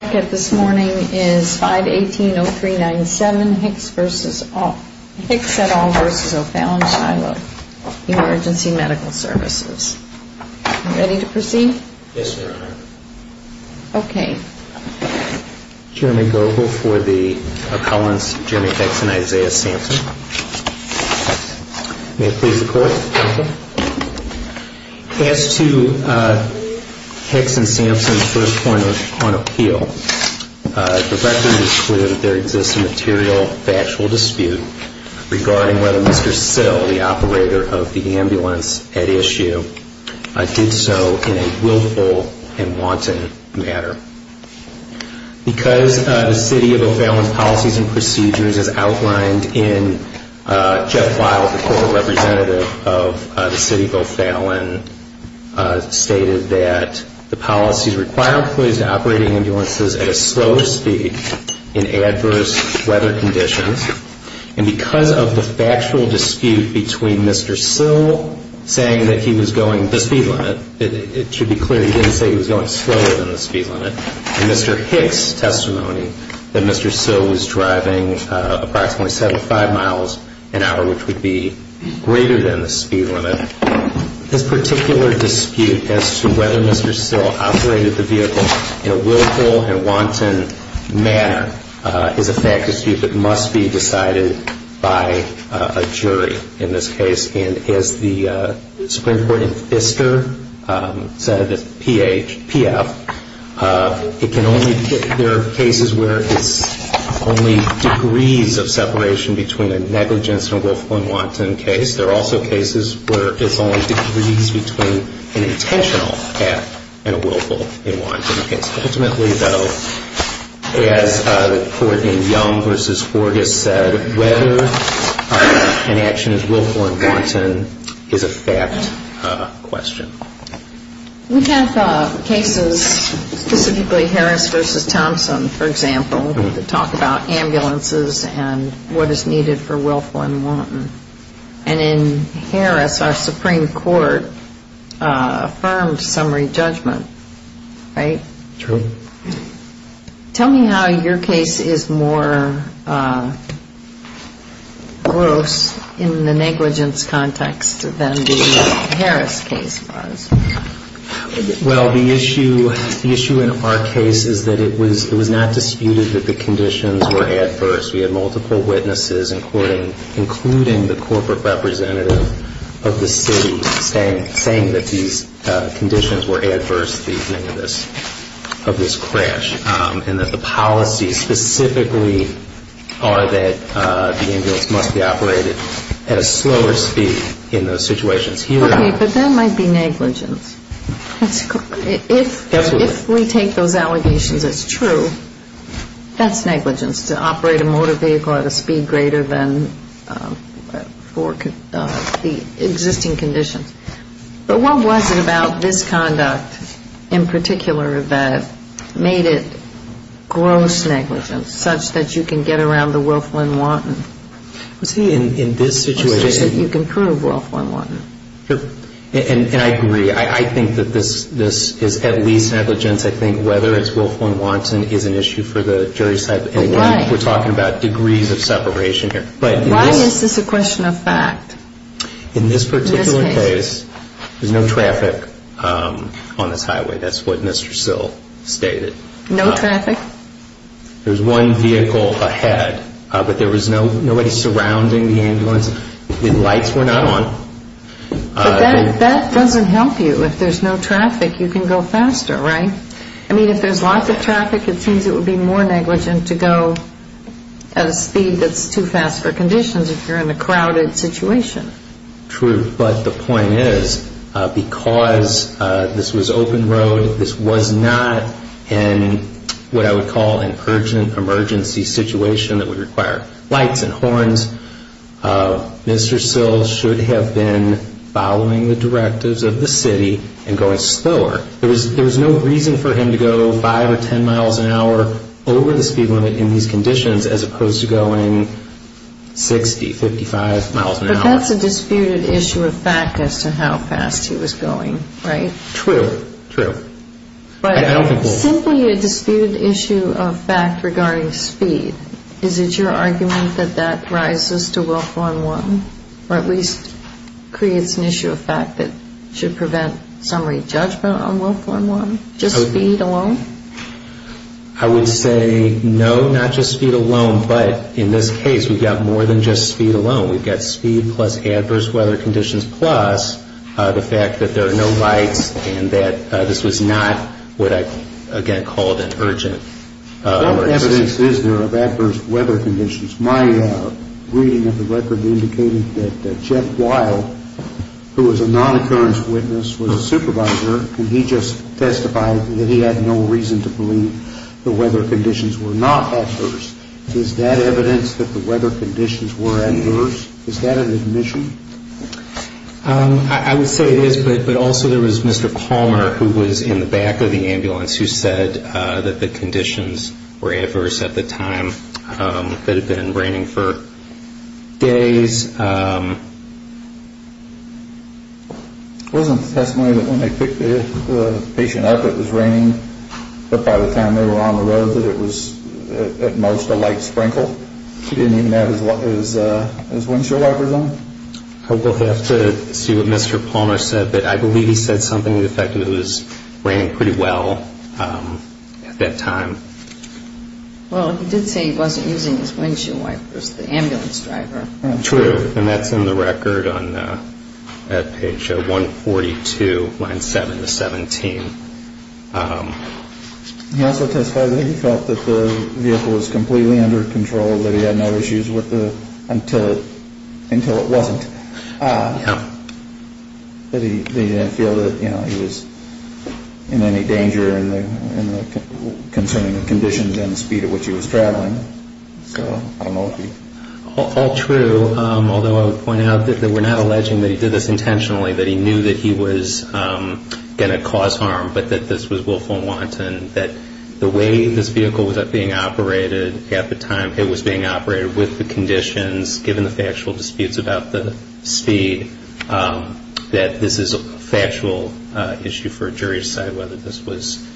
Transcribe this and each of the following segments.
The record this morning is 518-0397 Hicks et al. v. O'Fallon Shiloh Emergency Medical Services. Are you ready to proceed? Yes, Your Honor. Okay. Jeremy Goebel for the appellants Jeremy Hicks and Isaiah Sampson. May it please the Court. Thank you. As to Hicks and Sampson's first point on appeal, the record is clear that there exists a material factual dispute regarding whether Mr. Sill, the operator of the ambulance at issue, did so in a willful and wanton manner. Because the City of O'Fallon's policies and procedures, as outlined in Jeff Wild, the Court Representative of the City of O'Fallon, stated that the policies require employees to operate ambulances at a slower speed in adverse weather conditions. And because of the factual dispute between Mr. Sill saying that he was going the speed limit, it should be clear that he didn't say he was going slower than the speed limit. In Mr. Hicks' testimony, that Mr. Sill was driving approximately 75 miles an hour, which would be greater than the speed limit. This particular dispute as to whether Mr. Sill operated the vehicle in a willful and wanton manner is a factual dispute that must be decided by a jury in this case. And as the Supreme Court in Pfister said, P-H, P-F, there are cases where it's only degrees of separation between a negligence and a willful and wanton case. There are also cases where it's only degrees between an intentional act and a willful and wanton case. Ultimately, though, as the Court in Young v. Forgis said, whether an action is willful and wanton is a fact question. We have cases, specifically Harris v. Thompson, for example, that talk about ambulances and what is needed for willful and wanton. And in Harris, our Supreme Court affirmed summary judgment, right? True. Tell me how your case is more gross in the negligence context than the Harris case was. Well, the issue in our case is that it was not disputed that the conditions were adverse. We had multiple witnesses, including the corporate representative of the city, saying that these conditions were adverse to the event of this crash. And that the policies specifically are that the ambulance must be operated at a slower speed in those situations. Okay, but that might be negligence. If we take those allegations as true, that's negligence, to operate a motor vehicle at a speed greater than the existing conditions. But what was it about this conduct in particular that made it gross negligence, such that you can get around the willful and wanton? I'm saying in this situation you can prove willful and wanton. And I agree. I think that this is at least negligence. I think whether it's willful and wanton is an issue for the jury side. Again, we're talking about degrees of separation here. Why is this a question of fact in this case? In this particular case, there's no traffic on this highway. That's what Mr. Sill stated. No traffic? The lights were not on. But that doesn't help you. If there's no traffic, you can go faster, right? I mean, if there's lots of traffic, it seems it would be more negligent to go at a speed that's too fast for conditions if you're in a crowded situation. But the point is, because this was open road, this was not in what I would call an urgent emergency situation that would require lights and horns, Mr. Sill should have been following the directives of the city and going slower. There was no reason for him to go 5 or 10 miles an hour over the speed limit in these conditions as opposed to going 60, 55 miles an hour. That's a disputed issue of fact as to how fast he was going, right? True, true. But simply a disputed issue of fact regarding speed, is it your argument that that rises to willful and wanton or at least creates an issue of fact that should prevent summary judgment on willful and wanton, just speed alone? I would say no, not just speed alone, but in this case, we've got more than just speed alone. We've got speed plus adverse weather conditions plus the fact that there are no lights and that this was not what I, again, called an urgent emergency. What evidence is there of adverse weather conditions? My reading of the record indicated that Jeff Weil, who was a non-occurrence witness, was a supervisor, and he just testified that he had no reason to believe the weather conditions were not adverse. Is that evidence that the weather conditions were adverse? Is that an admission? I would say it is, but also there was Mr. Palmer, who was in the back of the ambulance, who said that the conditions were adverse at the time, that it had been raining for days. There was a testimony that when they picked the patient up, it was raining, but by the time they were on the road that it was at most a light sprinkle. He didn't even have his windshield wipers on. We'll have to see what Mr. Palmer said, but I believe he said something to the effect that it was raining pretty well at that time. Well, he did say he wasn't using his windshield wipers, the ambulance driver. True, and that's in the record at page 142, line 7 to 17. He also testified that he felt that the vehicle was completely under control, that he had no issues until it wasn't. But he didn't feel that he was in any danger concerning the conditions and the speed at which he was traveling. All true, although I would point out that we're not alleging that he did this intentionally, that he knew that he was going to cause harm, but that this was willful and wanton, that the way this vehicle was being operated at the time, it was being operated with the conditions, given the factual disputes about the speed, that this is a factual issue for a jury to decide whether this was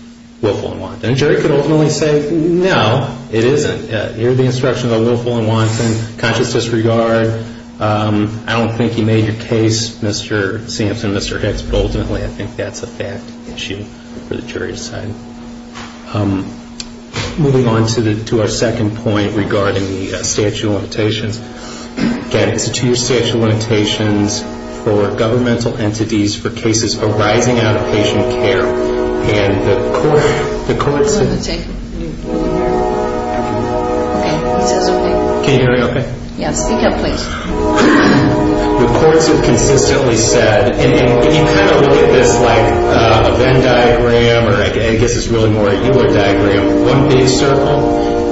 willful and wanton. And a jury could ultimately say, no, it isn't. Here are the instructions on willful and wanton, conscious disregard. I don't think he made your case, Mr. Sampson, Mr. Hicks, but ultimately I think that's a fact issue for the jury to decide. Moving on to our second point regarding the statute of limitations. Again, it's a two-year statute of limitations for governmental entities for cases arising out of patient care. And the courts have consistently said, and you kind of look at this like a Venn diagram, or I guess it's really more a Euler diagram, one big circle,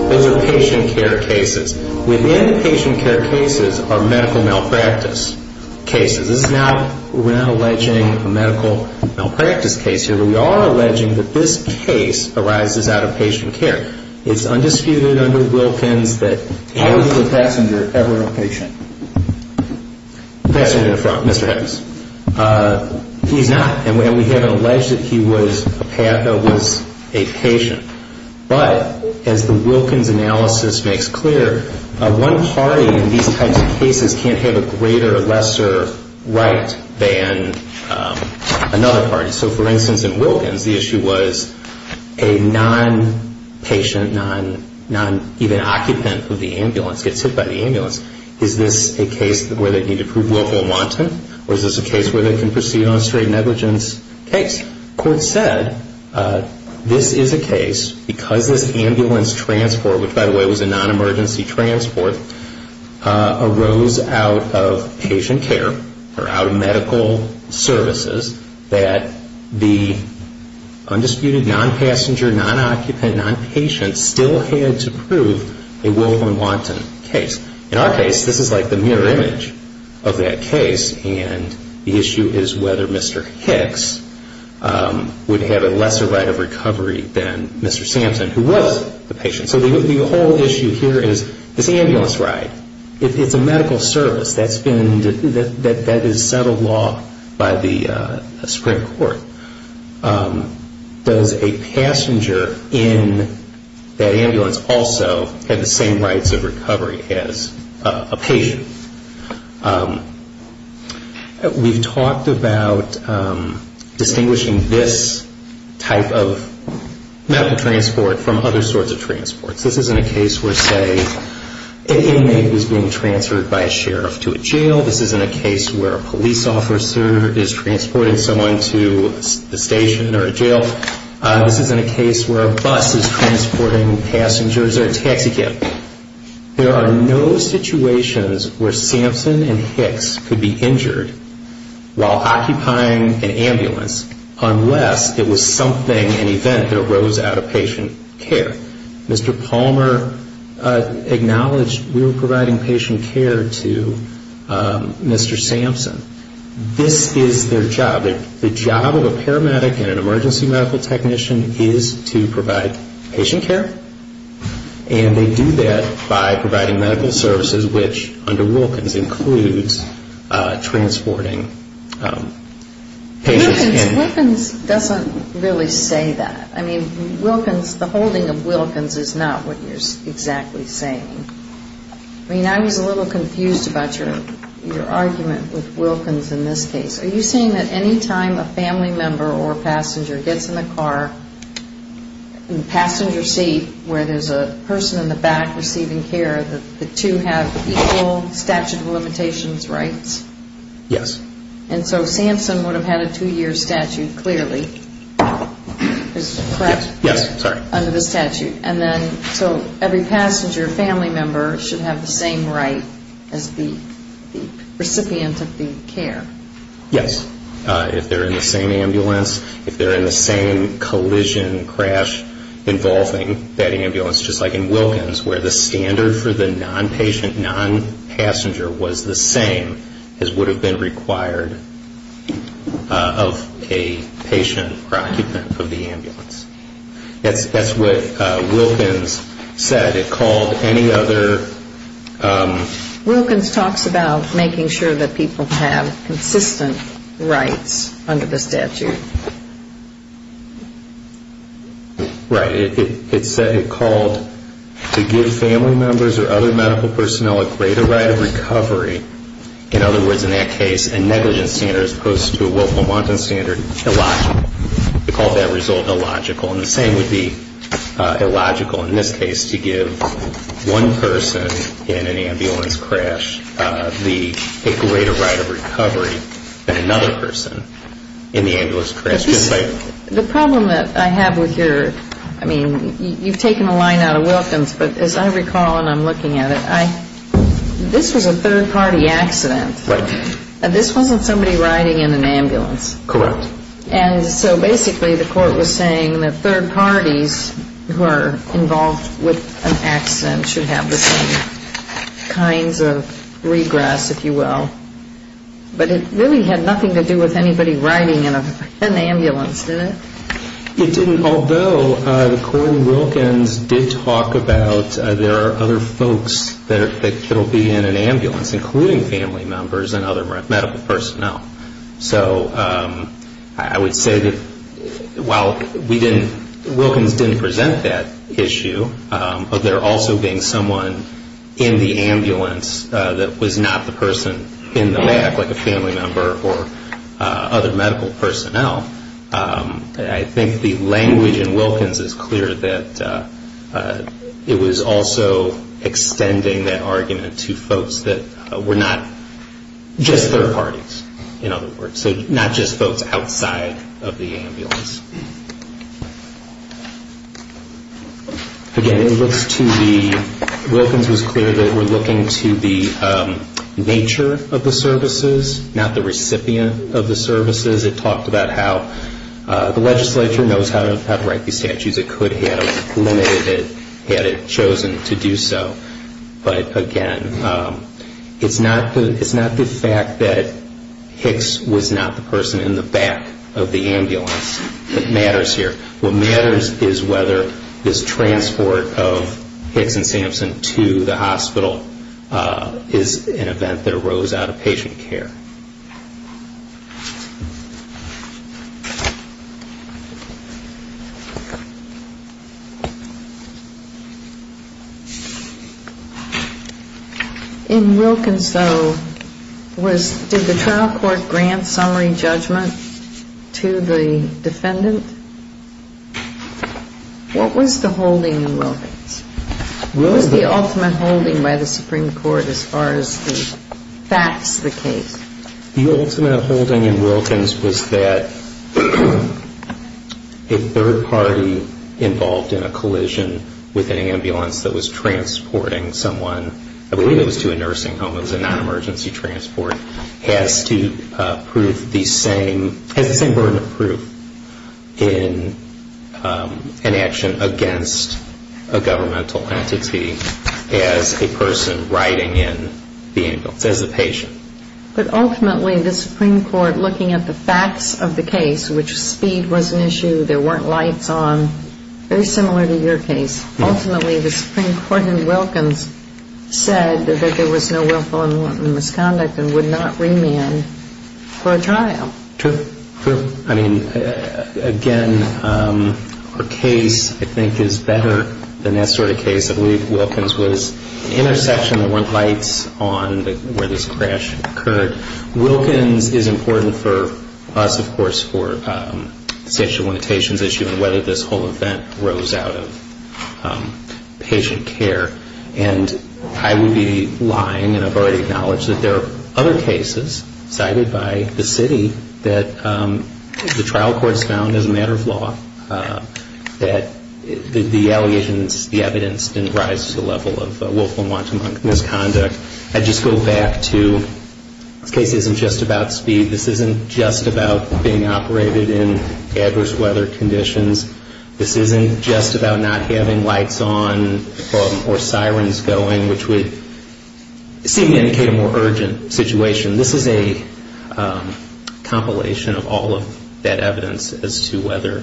those are patient care cases. Within patient care cases are medical malpractice cases. This is not, we're not alleging a medical malpractice case here, but we are alleging that this case arises out of patient care. It's undisputed under Wilkins that- How is the passenger ever a patient? The passenger in the front, Mr. Hicks. He's not, and we haven't alleged that he was a patient. But as the Wilkins analysis makes clear, one party in these types of cases can't have a greater or lesser right than another party. So, for instance, in Wilkins, the issue was a non-patient, non-even occupant of the ambulance gets hit by the ambulance. Is this a case where they need to prove willful and wanton? Or is this a case where they can proceed on a straight negligence case? As the court said, this is a case because this ambulance transport, which, by the way, was a non-emergency transport, arose out of patient care, or out of medical services, that the undisputed non-passenger, non-occupant, non-patient still had to prove a willful and wanton case. In our case, this is like the mirror image of that case, and the issue is whether Mr. Hicks would have a lesser right of recovery than Mr. Sampson, who was the patient. So the whole issue here is this ambulance ride. It's a medical service. That is settled law by the Supreme Court. Does a passenger in that ambulance also have the same rights of recovery as a patient? We've talked about distinguishing this type of medical transport from other sorts of transports. This isn't a case where, say, an inmate is being transferred by a sheriff to a jail. This isn't a case where a police officer is transporting someone to the station or a jail. This isn't a case where a bus is transporting passengers or a taxi cab. There are no situations where Sampson and Hicks could be injured while occupying an ambulance unless it was something, an event, that arose out of patient care. Mr. Palmer acknowledged we were providing patient care to Mr. Sampson. This is their job. The job of a paramedic and an emergency medical technician is to provide patient care, and they do that by providing medical services, which under Wilkins includes transporting patients. Wilkins doesn't really say that. I mean, Wilkins, the holding of Wilkins is not what you're exactly saying. I mean, I was a little confused about your argument with Wilkins in this case. Are you saying that any time a family member or a passenger gets in the car in the passenger seat where there's a person in the back receiving care, that the two have equal statute of limitations rights? Yes. And so Sampson would have had a two-year statute clearly, correct? Yes, sorry. Under the statute. And then so every passenger or family member should have the same right as the recipient of the care. Yes. If they're in the same ambulance, if they're in the same collision crash involving that ambulance, just like in Wilkins where the standard for the non-patient, non-passenger was the same as would have been required of a patient or occupant of the ambulance. That's what Wilkins said. It called any other... Wilkins talks about making sure that people have consistent rights under the statute. Right. It called to give family members or other medical personnel a greater right of recovery. In other words, in that case, a negligence standard as opposed to a Wolf-Montan standard, illogical. It called that result illogical. And the same would be illogical in this case to give one person in an ambulance crash a greater right of recovery than another person in the ambulance crash. The problem that I have with your, I mean, you've taken a line out of Wilkins, but as I recall and I'm looking at it, this was a third-party accident. Right. This wasn't somebody riding in an ambulance. Correct. And so basically the court was saying that third parties who are involved with an accident should have the same kinds of regress, if you will. But it really had nothing to do with anybody riding in an ambulance, did it? It didn't, although Cory Wilkins did talk about there are other folks that will be in an ambulance, including family members and other medical personnel. So I would say that while Wilkins didn't present that issue, of there also being someone in the ambulance that was not the person in the back, like a family member or other medical personnel, I think the language in Wilkins is clear that it was also extending that argument to folks that were not just third parties, in other words. So not just folks outside of the ambulance. Again, it looks to me, Wilkins was clear that we're looking to the nature of the services, not the recipient of the services. It talked about how the legislature knows how to write these statutes. It could have limited it had it chosen to do so. But again, it's not the fact that Hicks was not the person in the back of the ambulance that matters here. What matters is whether this transport of Hicks and Sampson to the hospital is an event that arose out of patient care. In Wilkins, though, did the trial court grant summary judgment to the defendant? What was the holding in Wilkins? What was the ultimate holding by the Supreme Court as far as the facts of the case? The ultimate holding in Wilkins was that a third party involved in a collision with an ambulance that was transporting someone, I believe it was to a nursing home, it was a non-emergency transport, has to prove the same burden of proof in an action against a governmental entity as a person riding in the ambulance, as a patient. But ultimately, the Supreme Court, looking at the facts of the case, which speed was an issue, there weren't lights on, very similar to your case, ultimately the Supreme Court in Wilkins said that there was no willful and misconduct and would not remand for a trial. True, true. I mean, again, our case, I think, is better than that sort of case. I believe Wilkins was the intersection, there weren't lights on where this crash occurred. Wilkins is important for us, of course, for the statute of limitations issue and whether this whole event rose out of patient care. And I would be lying, and I've already acknowledged that there are other cases cited by the city that the trial court has found as a matter of law that the allegations, the evidence didn't rise to the level of willful and wanton misconduct. I'd just go back to this case isn't just about speed, this isn't just about being operated in adverse weather conditions, this isn't just about not having lights on or sirens going, which would seem to indicate a more urgent situation. This is a compilation of all of that evidence as to whether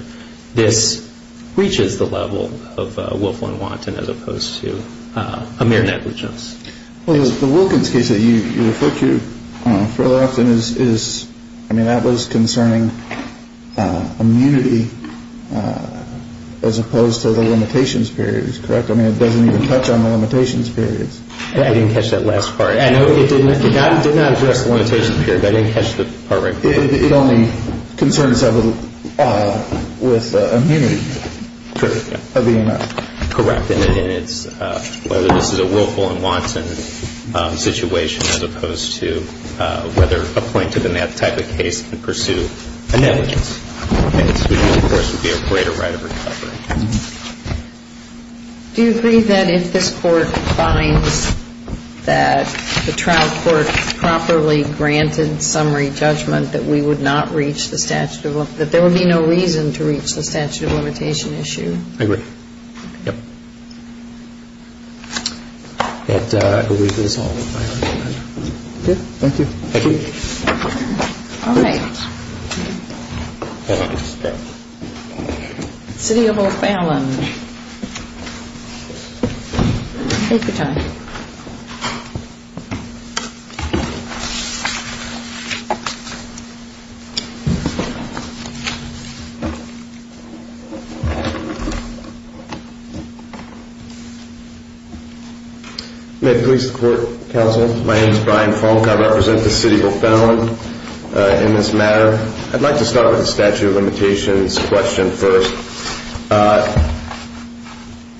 this reaches the level of willful and wanton as opposed to a mere negligence. The Wilkins case that you refer to fairly often is, I mean, that was concerning immunity as opposed to the limitations periods, correct? I mean, it doesn't even touch on the limitations periods. I didn't catch that last part. I know it did not address the limitations period, but I didn't catch the part right there. It only concerns with immunity. Correct. Correct. And it's whether this is a willful and wanton situation as opposed to whether a plaintiff in that type of case can pursue a negligence. And this, of course, would be a greater right of recovery. Do you agree that if this Court finds that the trial court properly granted summary judgment that we would not reach the statute of limitation, that there would be no reason to reach the statute of limitation issue? I agree. Yep. And I believe that's all. Thank you. Thank you. All right. Thank you. I thank you very much. Thanks. Thank you. Thank you. Thank you. City of Old Fallon, take your time. May it please the court, counsel. My name is Brian Fonk. I represent the City of Old Fallon in this matter. I'd like to start with the statute of limitations question first.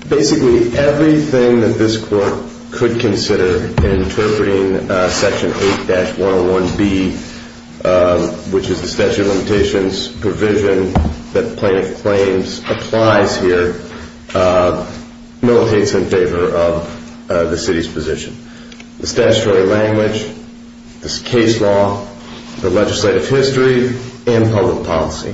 Basically, everything that this court could consider in interpreting Section 8-101B, which is the statute of limitations provision that the plaintiff claims applies here, militates in favor of the city's position. The statutory language, this case law, the legislative history, and public policy,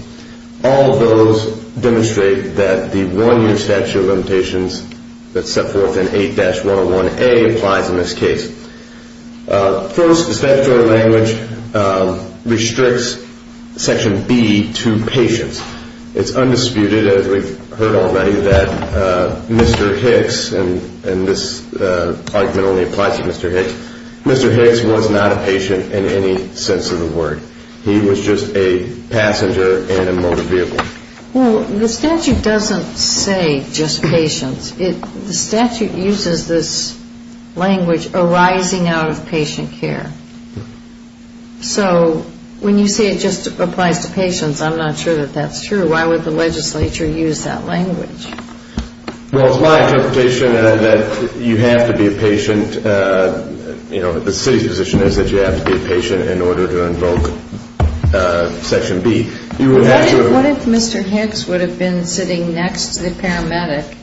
all of those demonstrate that the one-year statute of limitations that's set forth in 8-101A applies in this case. First, the statutory language restricts Section B to patients. It's undisputed, as we've heard already, that Mr. Hicks, and this argument only applies to Mr. Hicks, Mr. Hicks was not a patient in any sense of the word. He was just a passenger in a motor vehicle. Well, the statute doesn't say just patients. The statute uses this language arising out of patient care. So when you say it just applies to patients, I'm not sure that that's true. Why would the legislature use that language? Well, it's my interpretation that you have to be a patient, you know, the city's position is that you have to be a patient in order to invoke Section B. What if Mr. Hicks would have been sitting next to the paramedic,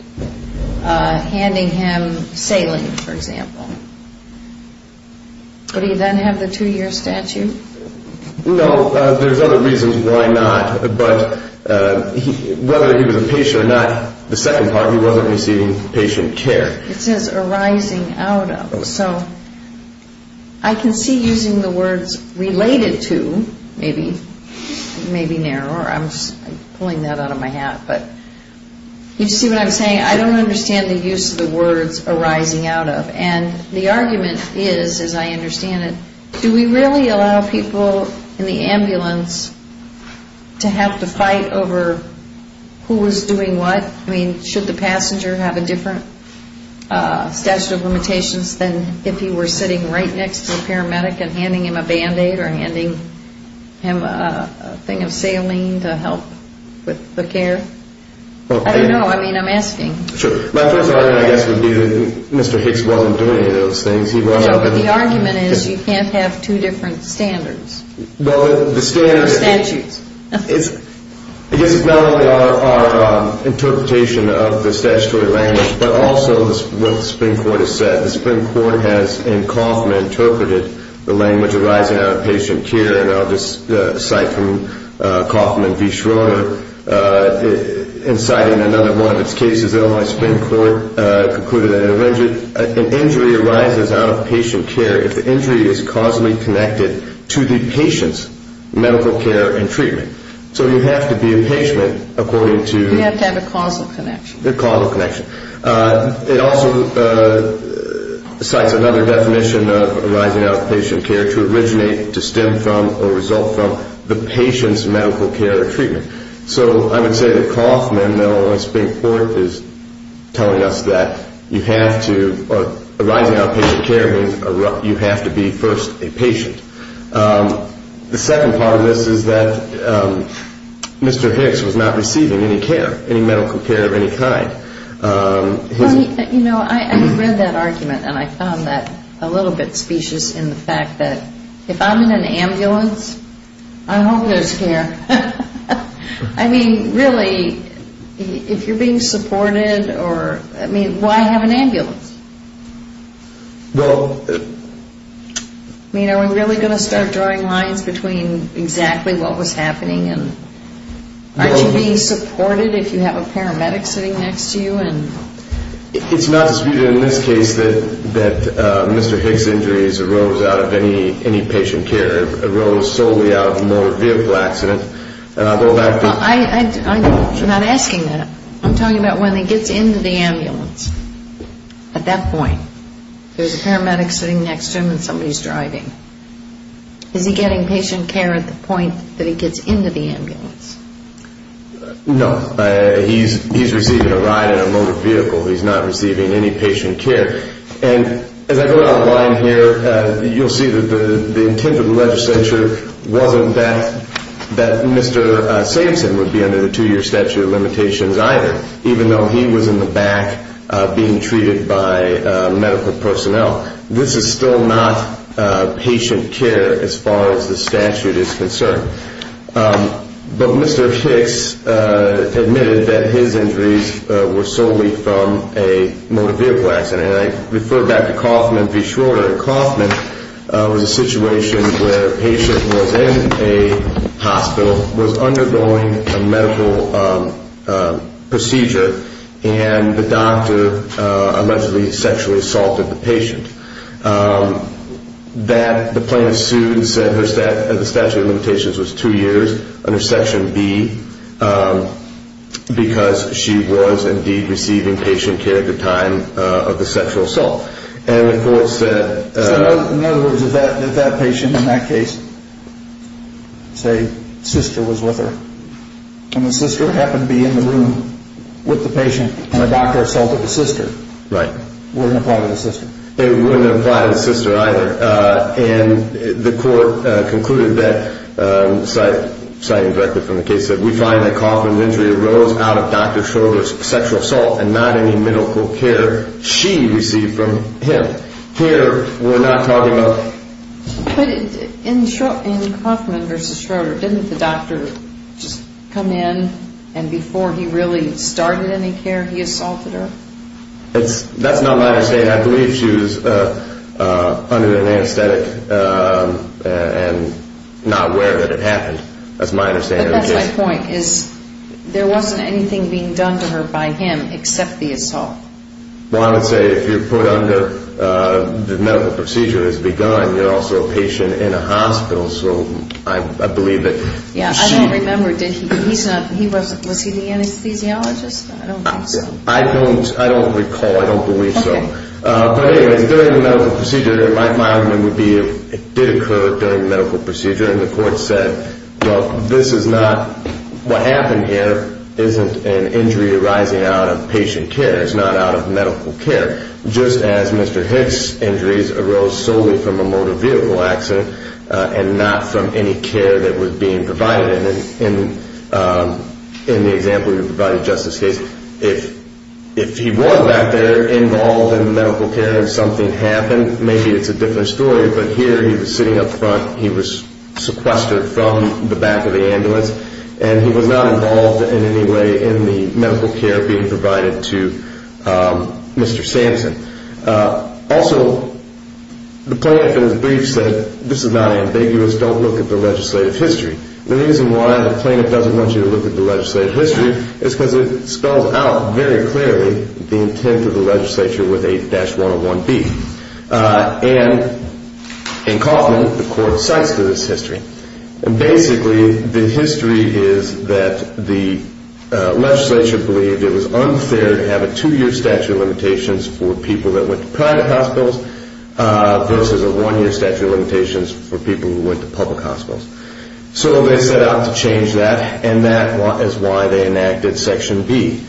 handing him saline, for example? Would he then have the two-year statute? No. There's other reasons why not. But whether he was a patient or not, the second part, he wasn't receiving patient care. It says arising out of. So I can see using the words related to, maybe, maybe narrower. I'm pulling that out of my hat. But you see what I'm saying? I don't understand the use of the words arising out of. And the argument is, as I understand it, do we really allow people in the ambulance to have to fight over who was doing what? I mean, should the passenger have a different statute of limitations than if he were sitting right next to a paramedic and handing him a Band-Aid or handing him a thing of saline to help with the care? I don't know. I mean, I'm asking. Sure. My first argument, I guess, would be that Mr. Hicks wasn't doing any of those things. The argument is you can't have two different standards. Or statutes. I guess it's not only our interpretation of the statutory language, but also what the Supreme Court has said. The Supreme Court has, in Kauffman, interpreted the language arising out of patient care. And I'll just cite from Kauffman v. Schroeder, and citing another one of its cases, Illinois Supreme Court concluded that an injury arises out of patient care if the injury is causally connected to the patient's medical care and treatment. So you have to be a patient according to... You have to have a causal connection. A causal connection. It also cites another definition of arising out of patient care to originate, to stem from, or result from the patient's medical care or treatment. So I would say that Kauffman, Illinois Supreme Court, is telling us that you have to... Or arising out of patient care means you have to be first a patient. The second part of this is that Mr. Hicks was not receiving any care, any medical care of any kind. You know, I read that argument, and I found that a little bit specious in the fact that if I'm in an ambulance, I hope there's care. I mean, really, if you're being supported or... I mean, why have an ambulance? Well... I mean, are we really going to start drawing lines between exactly what was happening? Aren't you being supported if you have a paramedic sitting next to you? It's not disputed in this case that Mr. Hicks' injuries arose out of any patient care. It arose solely out of a motor vehicle accident. I'm not asking that. I'm talking about when he gets into the ambulance. At that point, there's a paramedic sitting next to him and somebody's driving. Is he getting patient care at the point that he gets into the ambulance? No. He's receiving a ride in a motor vehicle. He's not receiving any patient care. And as I go out of line here, you'll see that the intent of the legislature wasn't that Mr. Samson would be under the 2-year statute of limitations either, even though he was in the back being treated by medical personnel. This is still not patient care as far as the statute is concerned. But Mr. Hicks admitted that his injuries were solely from a motor vehicle accident. And I refer back to Kaufman v. Schroeder. Kaufman was a situation where a patient was in a hospital, was undergoing a medical procedure, and the doctor allegedly sexually assaulted the patient. The plaintiff sued and said the statute of limitations was 2 years under Section B because she was indeed receiving patient care at the time of the sexual assault. In other words, if that patient in that case, say, sister was with her, and the sister happened to be in the room with the patient, and the doctor assaulted the sister, it wouldn't apply to the sister. It wouldn't apply to the sister either. And the court concluded that, citing directly from the case, that we find that Kaufman's injury arose out of Dr. Schroeder's sexual assault and not any medical care she received from him. Here, we're not talking about... But in Kaufman v. Schroeder, didn't the doctor just come in and before he really started any care, he assaulted her? That's not my understanding. I believe she was under an anesthetic and not aware that it happened. That's my understanding of the case. But that's my point, is there wasn't anything being done to her by him except the assault. Well, I would say if you're put under, the medical procedure has begun, you're also a patient in a hospital, so I believe that she... Yeah, I don't remember. Was he the anesthesiologist? I don't recall. I don't recall. I don't believe so. Okay. But anyways, during the medical procedure, my argument would be it did occur during the medical procedure, and the court said, well, this is not... What happened here isn't an injury arising out of patient care. It's not out of medical care, just as Mr. Hicks' injuries arose solely from a motor vehicle accident and not from any care that was being provided. In the example you provided, Justice Gates, if he was back there involved in the medical care and something happened, maybe it's a different story, but here he was sitting up front. He was sequestered from the back of the ambulance, and he was not involved in any way in the medical care being provided to Mr. Sampson. Also, the plaintiff in his brief said, this is not ambiguous. Don't look at the legislative history. The reason why the plaintiff doesn't want you to look at the legislative history is because it spells out very clearly the intent of the legislature with 8-101B. And in Kaufman, the court cites to this history. Basically, the history is that the legislature believed it was unfair to have a two-year statute of limitations for people that went to private hospitals versus a one-year statute of limitations for people who went to public hospitals. So they set out to change that, and that is why they enacted Section B.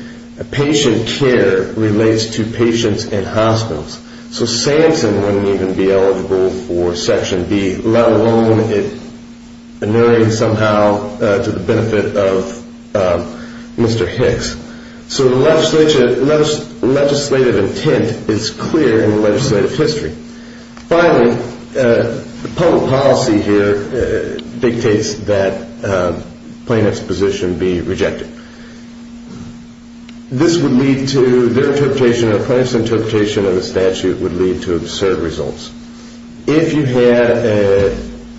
Patient care relates to patients in hospitals. So Sampson wouldn't even be eligible for Section B, let alone it narrating somehow to the benefit of Mr. Hicks. So the legislative intent is clear in the legislative history. Finally, the public policy here dictates that plaintiff's position be rejected. This would lead to their interpretation or a plaintiff's interpretation of the statute would lead to absurd results. If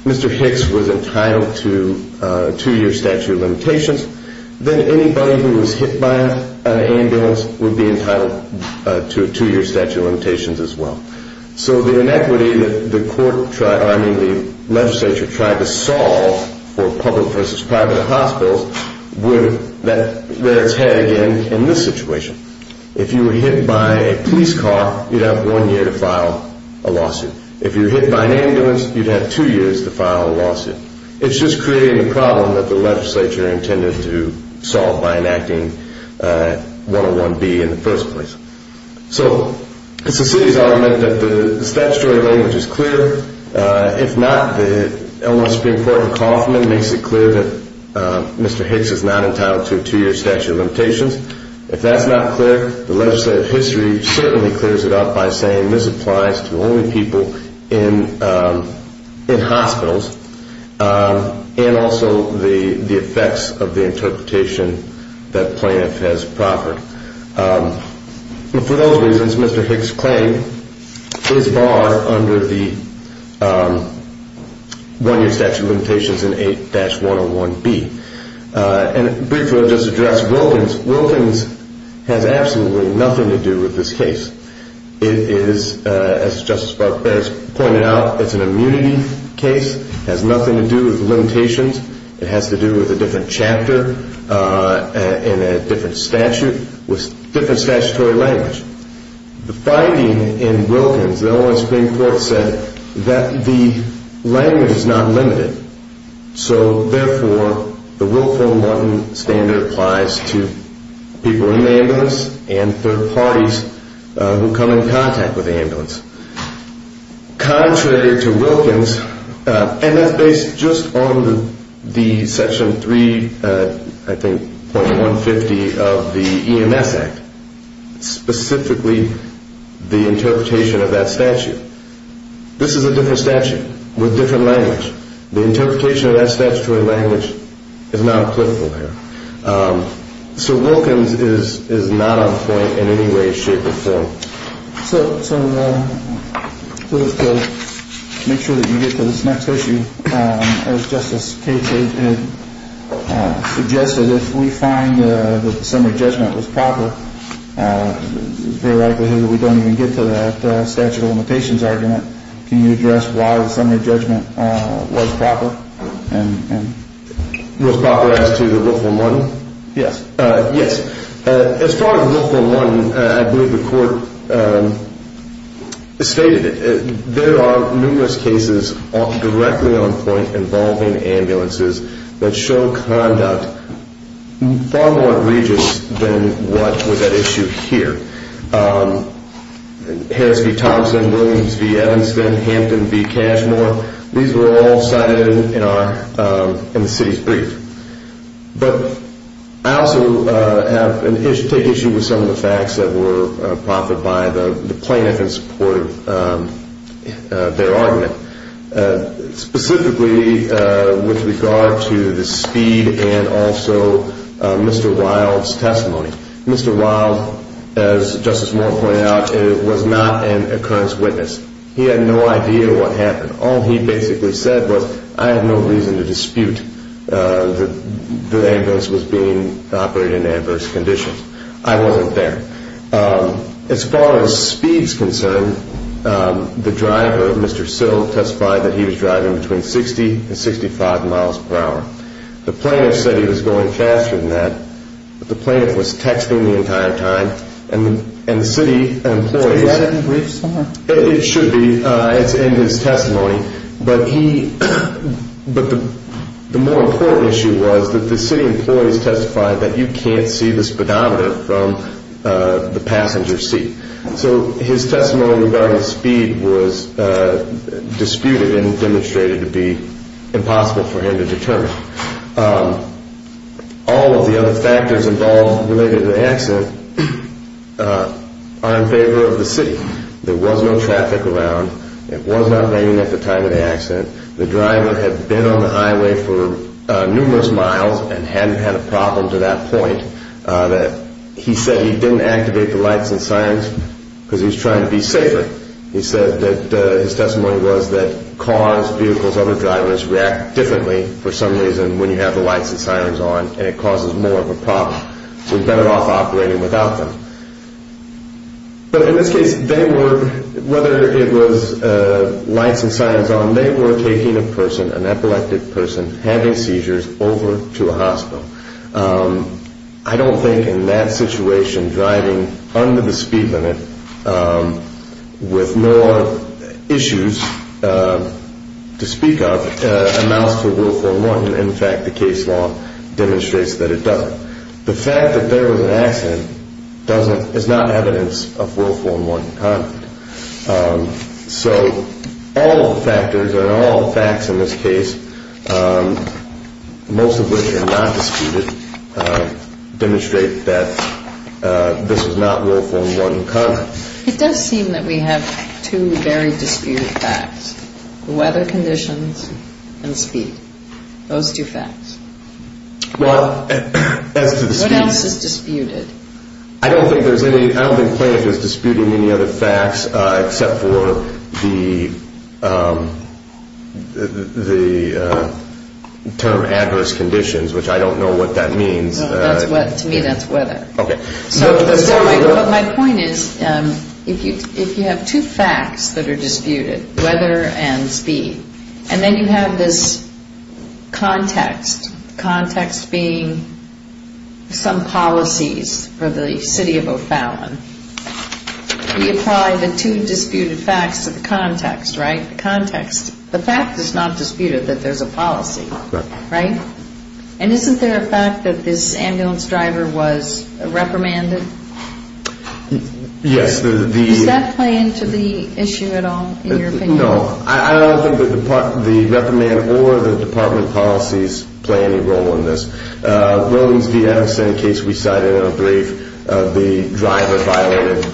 Mr. Hicks was entitled to a two-year statute of limitations, then anybody who was hit by an ambulance would be entitled to a two-year statute of limitations as well. So the inequity that the legislature tried to solve for public versus private hospitals would let us head again in this situation. If you were hit by a police car, you'd have one year to file a lawsuit. If you were hit by an ambulance, you'd have two years to file a lawsuit. It's just creating a problem that the legislature intended to solve by enacting 101B in the first place. So it's the city's argument that the statutory language is clear. If not, the Illinois Supreme Court in Kaufman makes it clear that Mr. Hicks is not entitled to a two-year statute of limitations. If that's not clear, the legislative history certainly clears it up by saying this applies to only people in hospitals and also the effects of the interpretation that plaintiff has proffered. For those reasons, Mr. Hicks' claim is barred under the one-year statute of limitations in 8-101B. And briefly, I'll just address Wilkins. Wilkins has absolutely nothing to do with this case. It is, as Justice Barber has pointed out, it's an immunity case. It has nothing to do with limitations. It has to do with a different chapter and a different statute with different statutory language. The finding in Wilkins, the Illinois Supreme Court said that the language is not limited. So, therefore, the Wilco Morton standard applies to people in the ambulance and third parties who come in contact with the ambulance. Contrary to Wilkins, and that's based just on the section 3, I think, .150 of the EMS Act, specifically the interpretation of that statute. This is a different statute with different language. The interpretation of that statutory language is not applicable here. So Wilkins is not on point in any way, shape, or form. So just to make sure that you get to this next issue, as Justice Cates had suggested, if we find that the summary judgment was proper, it's very likely here that we don't even get to that statute of limitations argument. Can you address why the summary judgment was proper? Was proper as to the Wilco Morton? Yes. Yes. As far as the Wilco Morton, I believe the court stated it. There are numerous cases directly on point involving ambulances that show conduct in far more regions than what was at issue here. Harris v. Thompson, Williams v. Evanston, Hampton v. Cashmore, these were all cited in the city's brief. But I also take issue with some of the facts that were proffered by the plaintiff in support of their argument. Specifically with regard to the speed and also Mr. Wild's testimony. Mr. Wild, as Justice Morton pointed out, was not an occurrence witness. He had no idea what happened. All he basically said was, I have no reason to dispute that the ambulance was being operated in adverse conditions. I wasn't there. As far as speed is concerned, the driver, Mr. Sill, testified that he was driving between 60 and 65 miles per hour. The plaintiff said he was going faster than that. But the plaintiff was texting the entire time. And the city employees. Is that in the brief, sir? It should be. It's in his testimony. But the more important issue was that the city employees testified that you can't see the speedometer from the passenger seat. So his testimony regarding speed was disputed and demonstrated to be impossible for him to determine. All of the other factors involved related to the accident are in favor of the city. There was no traffic around. It was not raining at the time of the accident. The driver had been on the highway for numerous miles and hadn't had a problem to that point. He said he didn't activate the lights and sirens because he was trying to be safer. He said that his testimony was that cars, vehicles, other drivers react differently for some reason when you have the lights and sirens on and it causes more of a problem. So he was better off operating without them. But in this case, whether it was lights and sirens on, when they were taking a person, an epileptic person, having seizures over to a hospital, I don't think in that situation driving under the speed limit with more issues to speak of amounts to a Will 411. In fact, the case law demonstrates that it doesn't. The fact that there was an accident is not evidence of Will 411 conduct. So all of the factors and all the facts in this case, most of which are not disputed, demonstrate that this was not Will 411 conduct. It does seem that we have two very disputed facts, weather conditions and speed. Those two facts. Well, as to the speed. What else is disputed? I don't think there's any. I don't think Clarence is disputing any other facts except for the term adverse conditions, which I don't know what that means. To me that's weather. Okay. But my point is if you have two facts that are disputed, weather and speed, and then you have this context, context being some policies for the city of O'Fallon. We apply the two disputed facts to the context, right? The context. The fact is not disputed that there's a policy, right? And isn't there a fact that this ambulance driver was reprimanded? Yes. Does that play into the issue at all in your opinion? No. I don't think the reprimand or the department policies play any role in this. Williams v. Evanston, a case we cited in our brief, the driver violated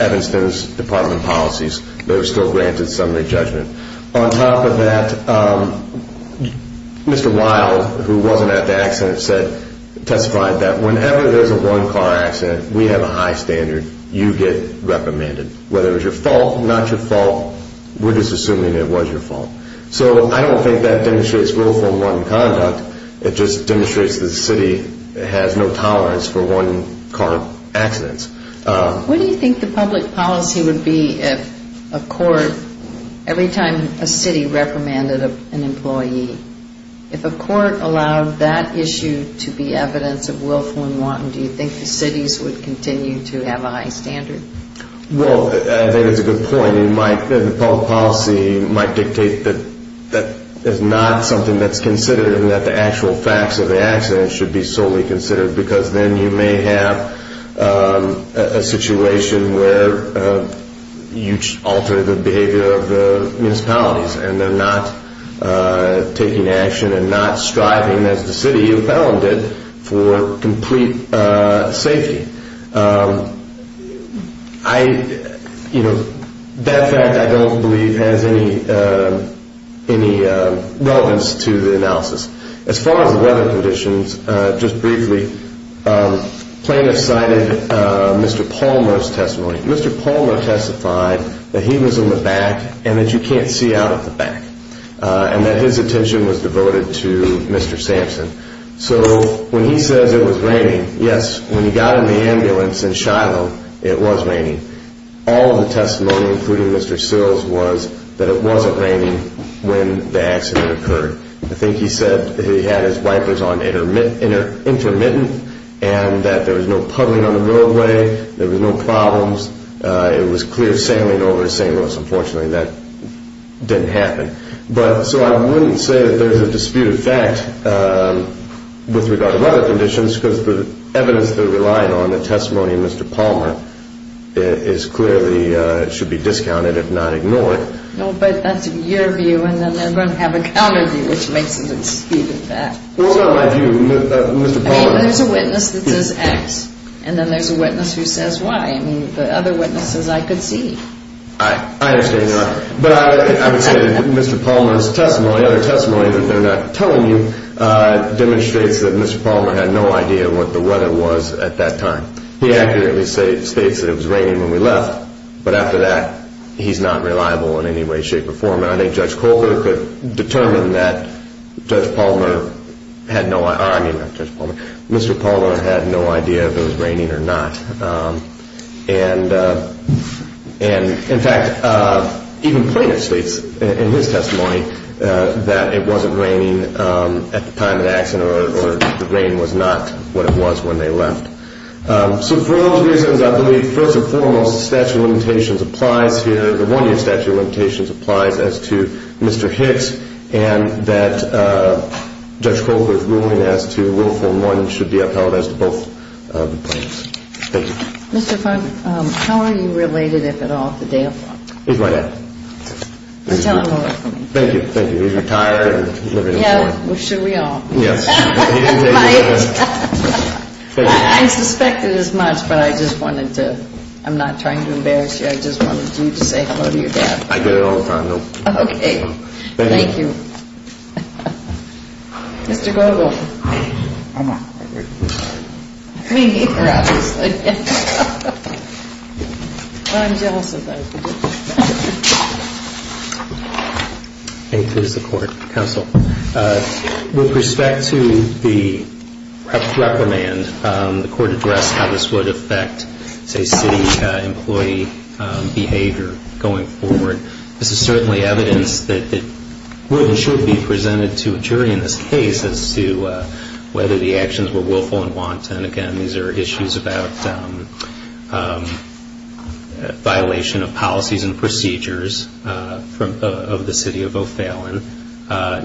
Evanston's department policies. They were still granted summary judgment. On top of that, Mr. Wild, who wasn't at the accident, testified that whenever there's a one-car accident, we have a high standard. You get reprimanded. Whether it was your fault, not your fault, we're just assuming it was your fault. So I don't think that demonstrates willful and wanton conduct. It just demonstrates that the city has no tolerance for one-car accidents. What do you think the public policy would be if a court, every time a city reprimanded an employee, if a court allowed that issue to be evidence of willful and wanton, do you think the cities would continue to have a high standard? Well, I think that's a good point. The public policy might dictate that that is not something that's considered and that the actual facts of the accident should be solely considered because then you may have a situation where you alter the behavior of the municipalities and they're not taking action and not striving, as the city of Pelham did, for complete safety. That fact, I don't believe, has any relevance to the analysis. As far as the weather conditions, just briefly, plaintiffs cited Mr. Palmer's testimony. Mr. Palmer testified that he was in the back and that you can't see out of the back and that his attention was devoted to Mr. Sampson. So when he says it was raining, yes, when he got in the ambulance in Shiloh, it was raining. All of the testimony, including Mr. Sills, was that it wasn't raining when the accident occurred. I think he said that he had his wipers on intermittent and that there was no puddling on the roadway, there was no problems. It was clear sailing over St. Louis, unfortunately, that didn't happen. So I wouldn't say that there's a dispute of fact with regard to weather conditions because the evidence they're relying on, the testimony of Mr. Palmer, clearly should be discounted, if not ignored. No, but that's your view, and then they're going to have a counter view, which makes it a dispute of fact. Well, it's not my view. Mr. Palmer... I mean, there's a witness that says X, and then there's a witness who says Y. I mean, the other witnesses I could see. I understand your argument. But I would say that Mr. Palmer's testimony, other testimony that they're not telling you, demonstrates that Mr. Palmer had no idea what the weather was at that time. He accurately states that it was raining when we left, but after that, he's not reliable in any way, shape, or form. And I think Judge Colbert could determine that Mr. Palmer had no idea if it was raining or not. And, in fact, even Plaintiff states in his testimony that it wasn't raining at the time of the accident or the rain was not what it was when they left. So for those reasons, I believe, first and foremost, statute of limitations applies here. The one year statute of limitations applies as to Mr. Hicks and that Judge Colbert's ruling as to Willful and One should be upheld as to both of the plaintiffs. Thank you. Mr. Fung, how are you related, if at all, to Dale Fung? He's my dad. Well, tell him a little. Thank you. Thank you. He's retired and living in Florida. Yeah. Well, should we all? Yes. At my age. Thank you. I didn't suspect it as much, but I just wanted to – I'm not trying to embarrass you. I just wanted you to say hello to your dad. I do it all the time, though. Okay. Thank you. Mr. Goebel. I'm not. Me either, obviously. Well, I'm jealous of that. Thank you for the support, counsel. With respect to the reprimand, the court addressed how this would affect, say, city employee behavior going forward. This is certainly evidence that it really should be presented to a jury in this case as to whether the actions were willful and want. And, again, these are issues about violation of policies and procedures of the city of O'Fallon.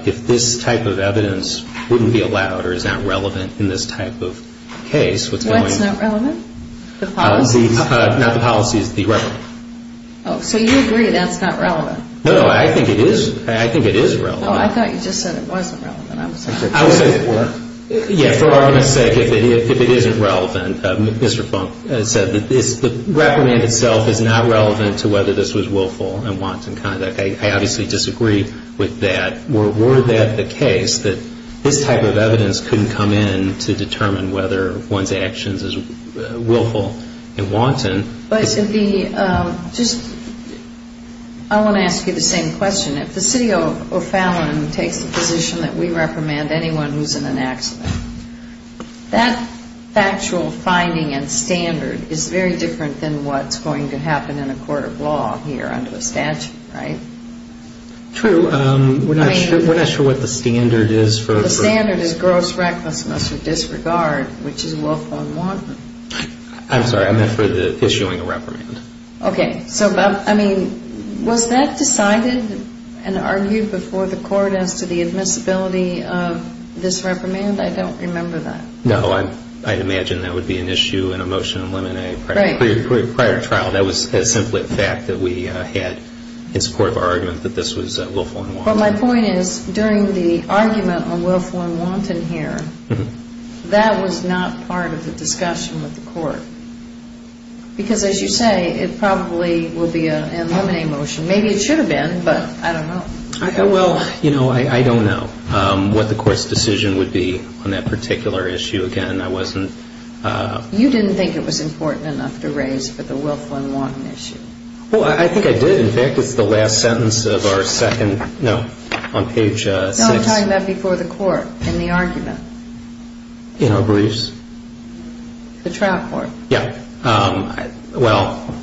If this type of evidence wouldn't be allowed or is not relevant in this type of case, what's going on? That's not relevant? The policies? Not the policies. The reprimand. Oh. So you agree that's not relevant? No, no. I think it is. I think it is relevant. Oh, I thought you just said it wasn't relevant. I'm sorry. I would say that it were. Yeah, for argument's sake, if it isn't relevant, Mr. Funk said that the reprimand itself is not relevant to whether this was willful and wanton conduct. I obviously disagree with that. Were that the case, that this type of evidence couldn't come in to determine whether one's actions is willful and wanton? I want to ask you the same question. If the city of O'Fallon takes the position that we reprimand anyone who's in an accident, that factual finding and standard is very different than what's going to happen in a court of law here under a statute, right? True. We're not sure what the standard is. The standard is gross recklessness or disregard, which is willful and wanton. I'm sorry. I meant for the issuing a reprimand. Okay. So, I mean, was that decided and argued before the court as to the admissibility of this reprimand? I don't remember that. No. I'd imagine that would be an issue in a motion of limine prior to trial. That was simply a fact that we had in support of our argument that this was willful and wanton. But my point is, during the argument on willful and wanton here, that was not part of the discussion with the court. Because, as you say, it probably would be an eliminate motion. Maybe it should have been, but I don't know. Well, you know, I don't know what the court's decision would be on that particular issue. Again, I wasn't – You didn't think it was important enough to raise for the willful and wanton issue. Well, I think I did. In fact, it's the last sentence of our second – no, on page 6. No, I'm talking about before the court in the argument. In our briefs. The trial court. Yeah. Well,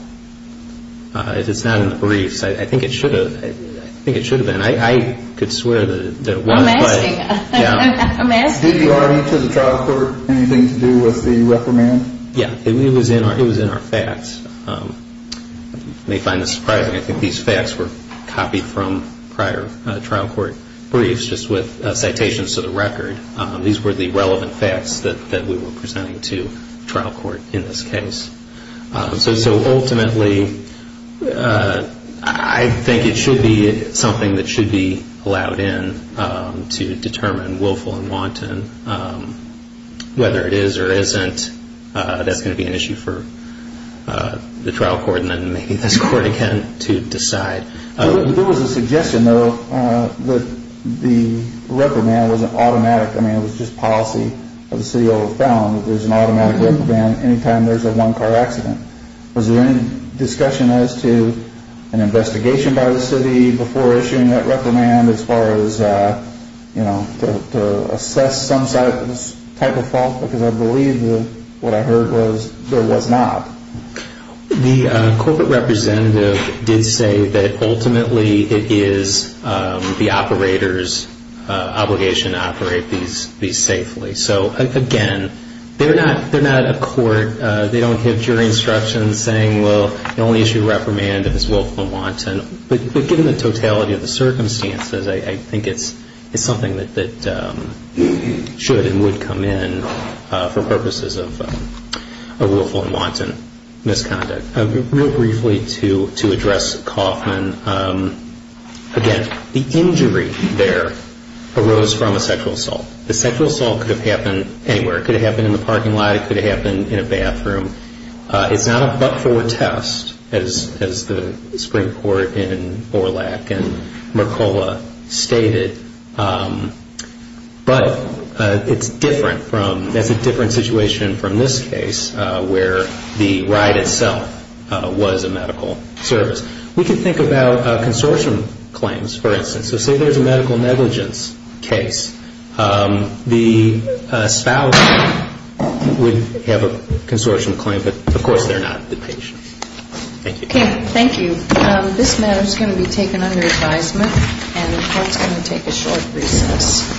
it's not in the briefs. I think it should have. I think it should have been. I could swear that it was. I'm asking. I'm asking. Did the argument to the trial court have anything to do with the reprimand? Yeah. It was in our facts. You may find this surprising. I think these facts were copied from prior trial court briefs, just with citations to the record. These were the relevant facts that we were presenting to trial court in this case. So ultimately, I think it should be something that should be allowed in to determine willful and wanton. Whether it is or isn't, that's going to be an issue for the trial court and then maybe this court again to decide. There was a suggestion, though, that the reprimand was an automatic. I mean, it was just policy of the city over the phone that there's an automatic reprimand any time there's a one-car accident. Was there any discussion as to an investigation by the city before issuing that reprimand as far as, you know, to assess some type of fault? Because I believe what I heard was there was not. The corporate representative did say that ultimately it is the operator's obligation to operate these safely. So, again, they're not a court. They don't give jury instructions saying, well, the only issue of reprimand is willful and wanton. But given the totality of the circumstances, I think it's something that should and would come in for purposes of willful and wanton misconduct. Real briefly to address Kaufman, again, the injury there arose from a sexual assault. The sexual assault could have happened anywhere. It could have happened in the parking lot. It could have happened in a bathroom. It's not a but-for test, as the Supreme Court in Borlaug and Mercola stated. But it's different from, it's a different situation from this case where the ride itself was a medical service. We can think about consortium claims, for instance. So say there's a medical negligence case. The spouse would have a consortium claim, but, of course, they're not the patient. Thank you. Okay, thank you. This matter is going to be taken under advisement, and the Court's going to take a short recess.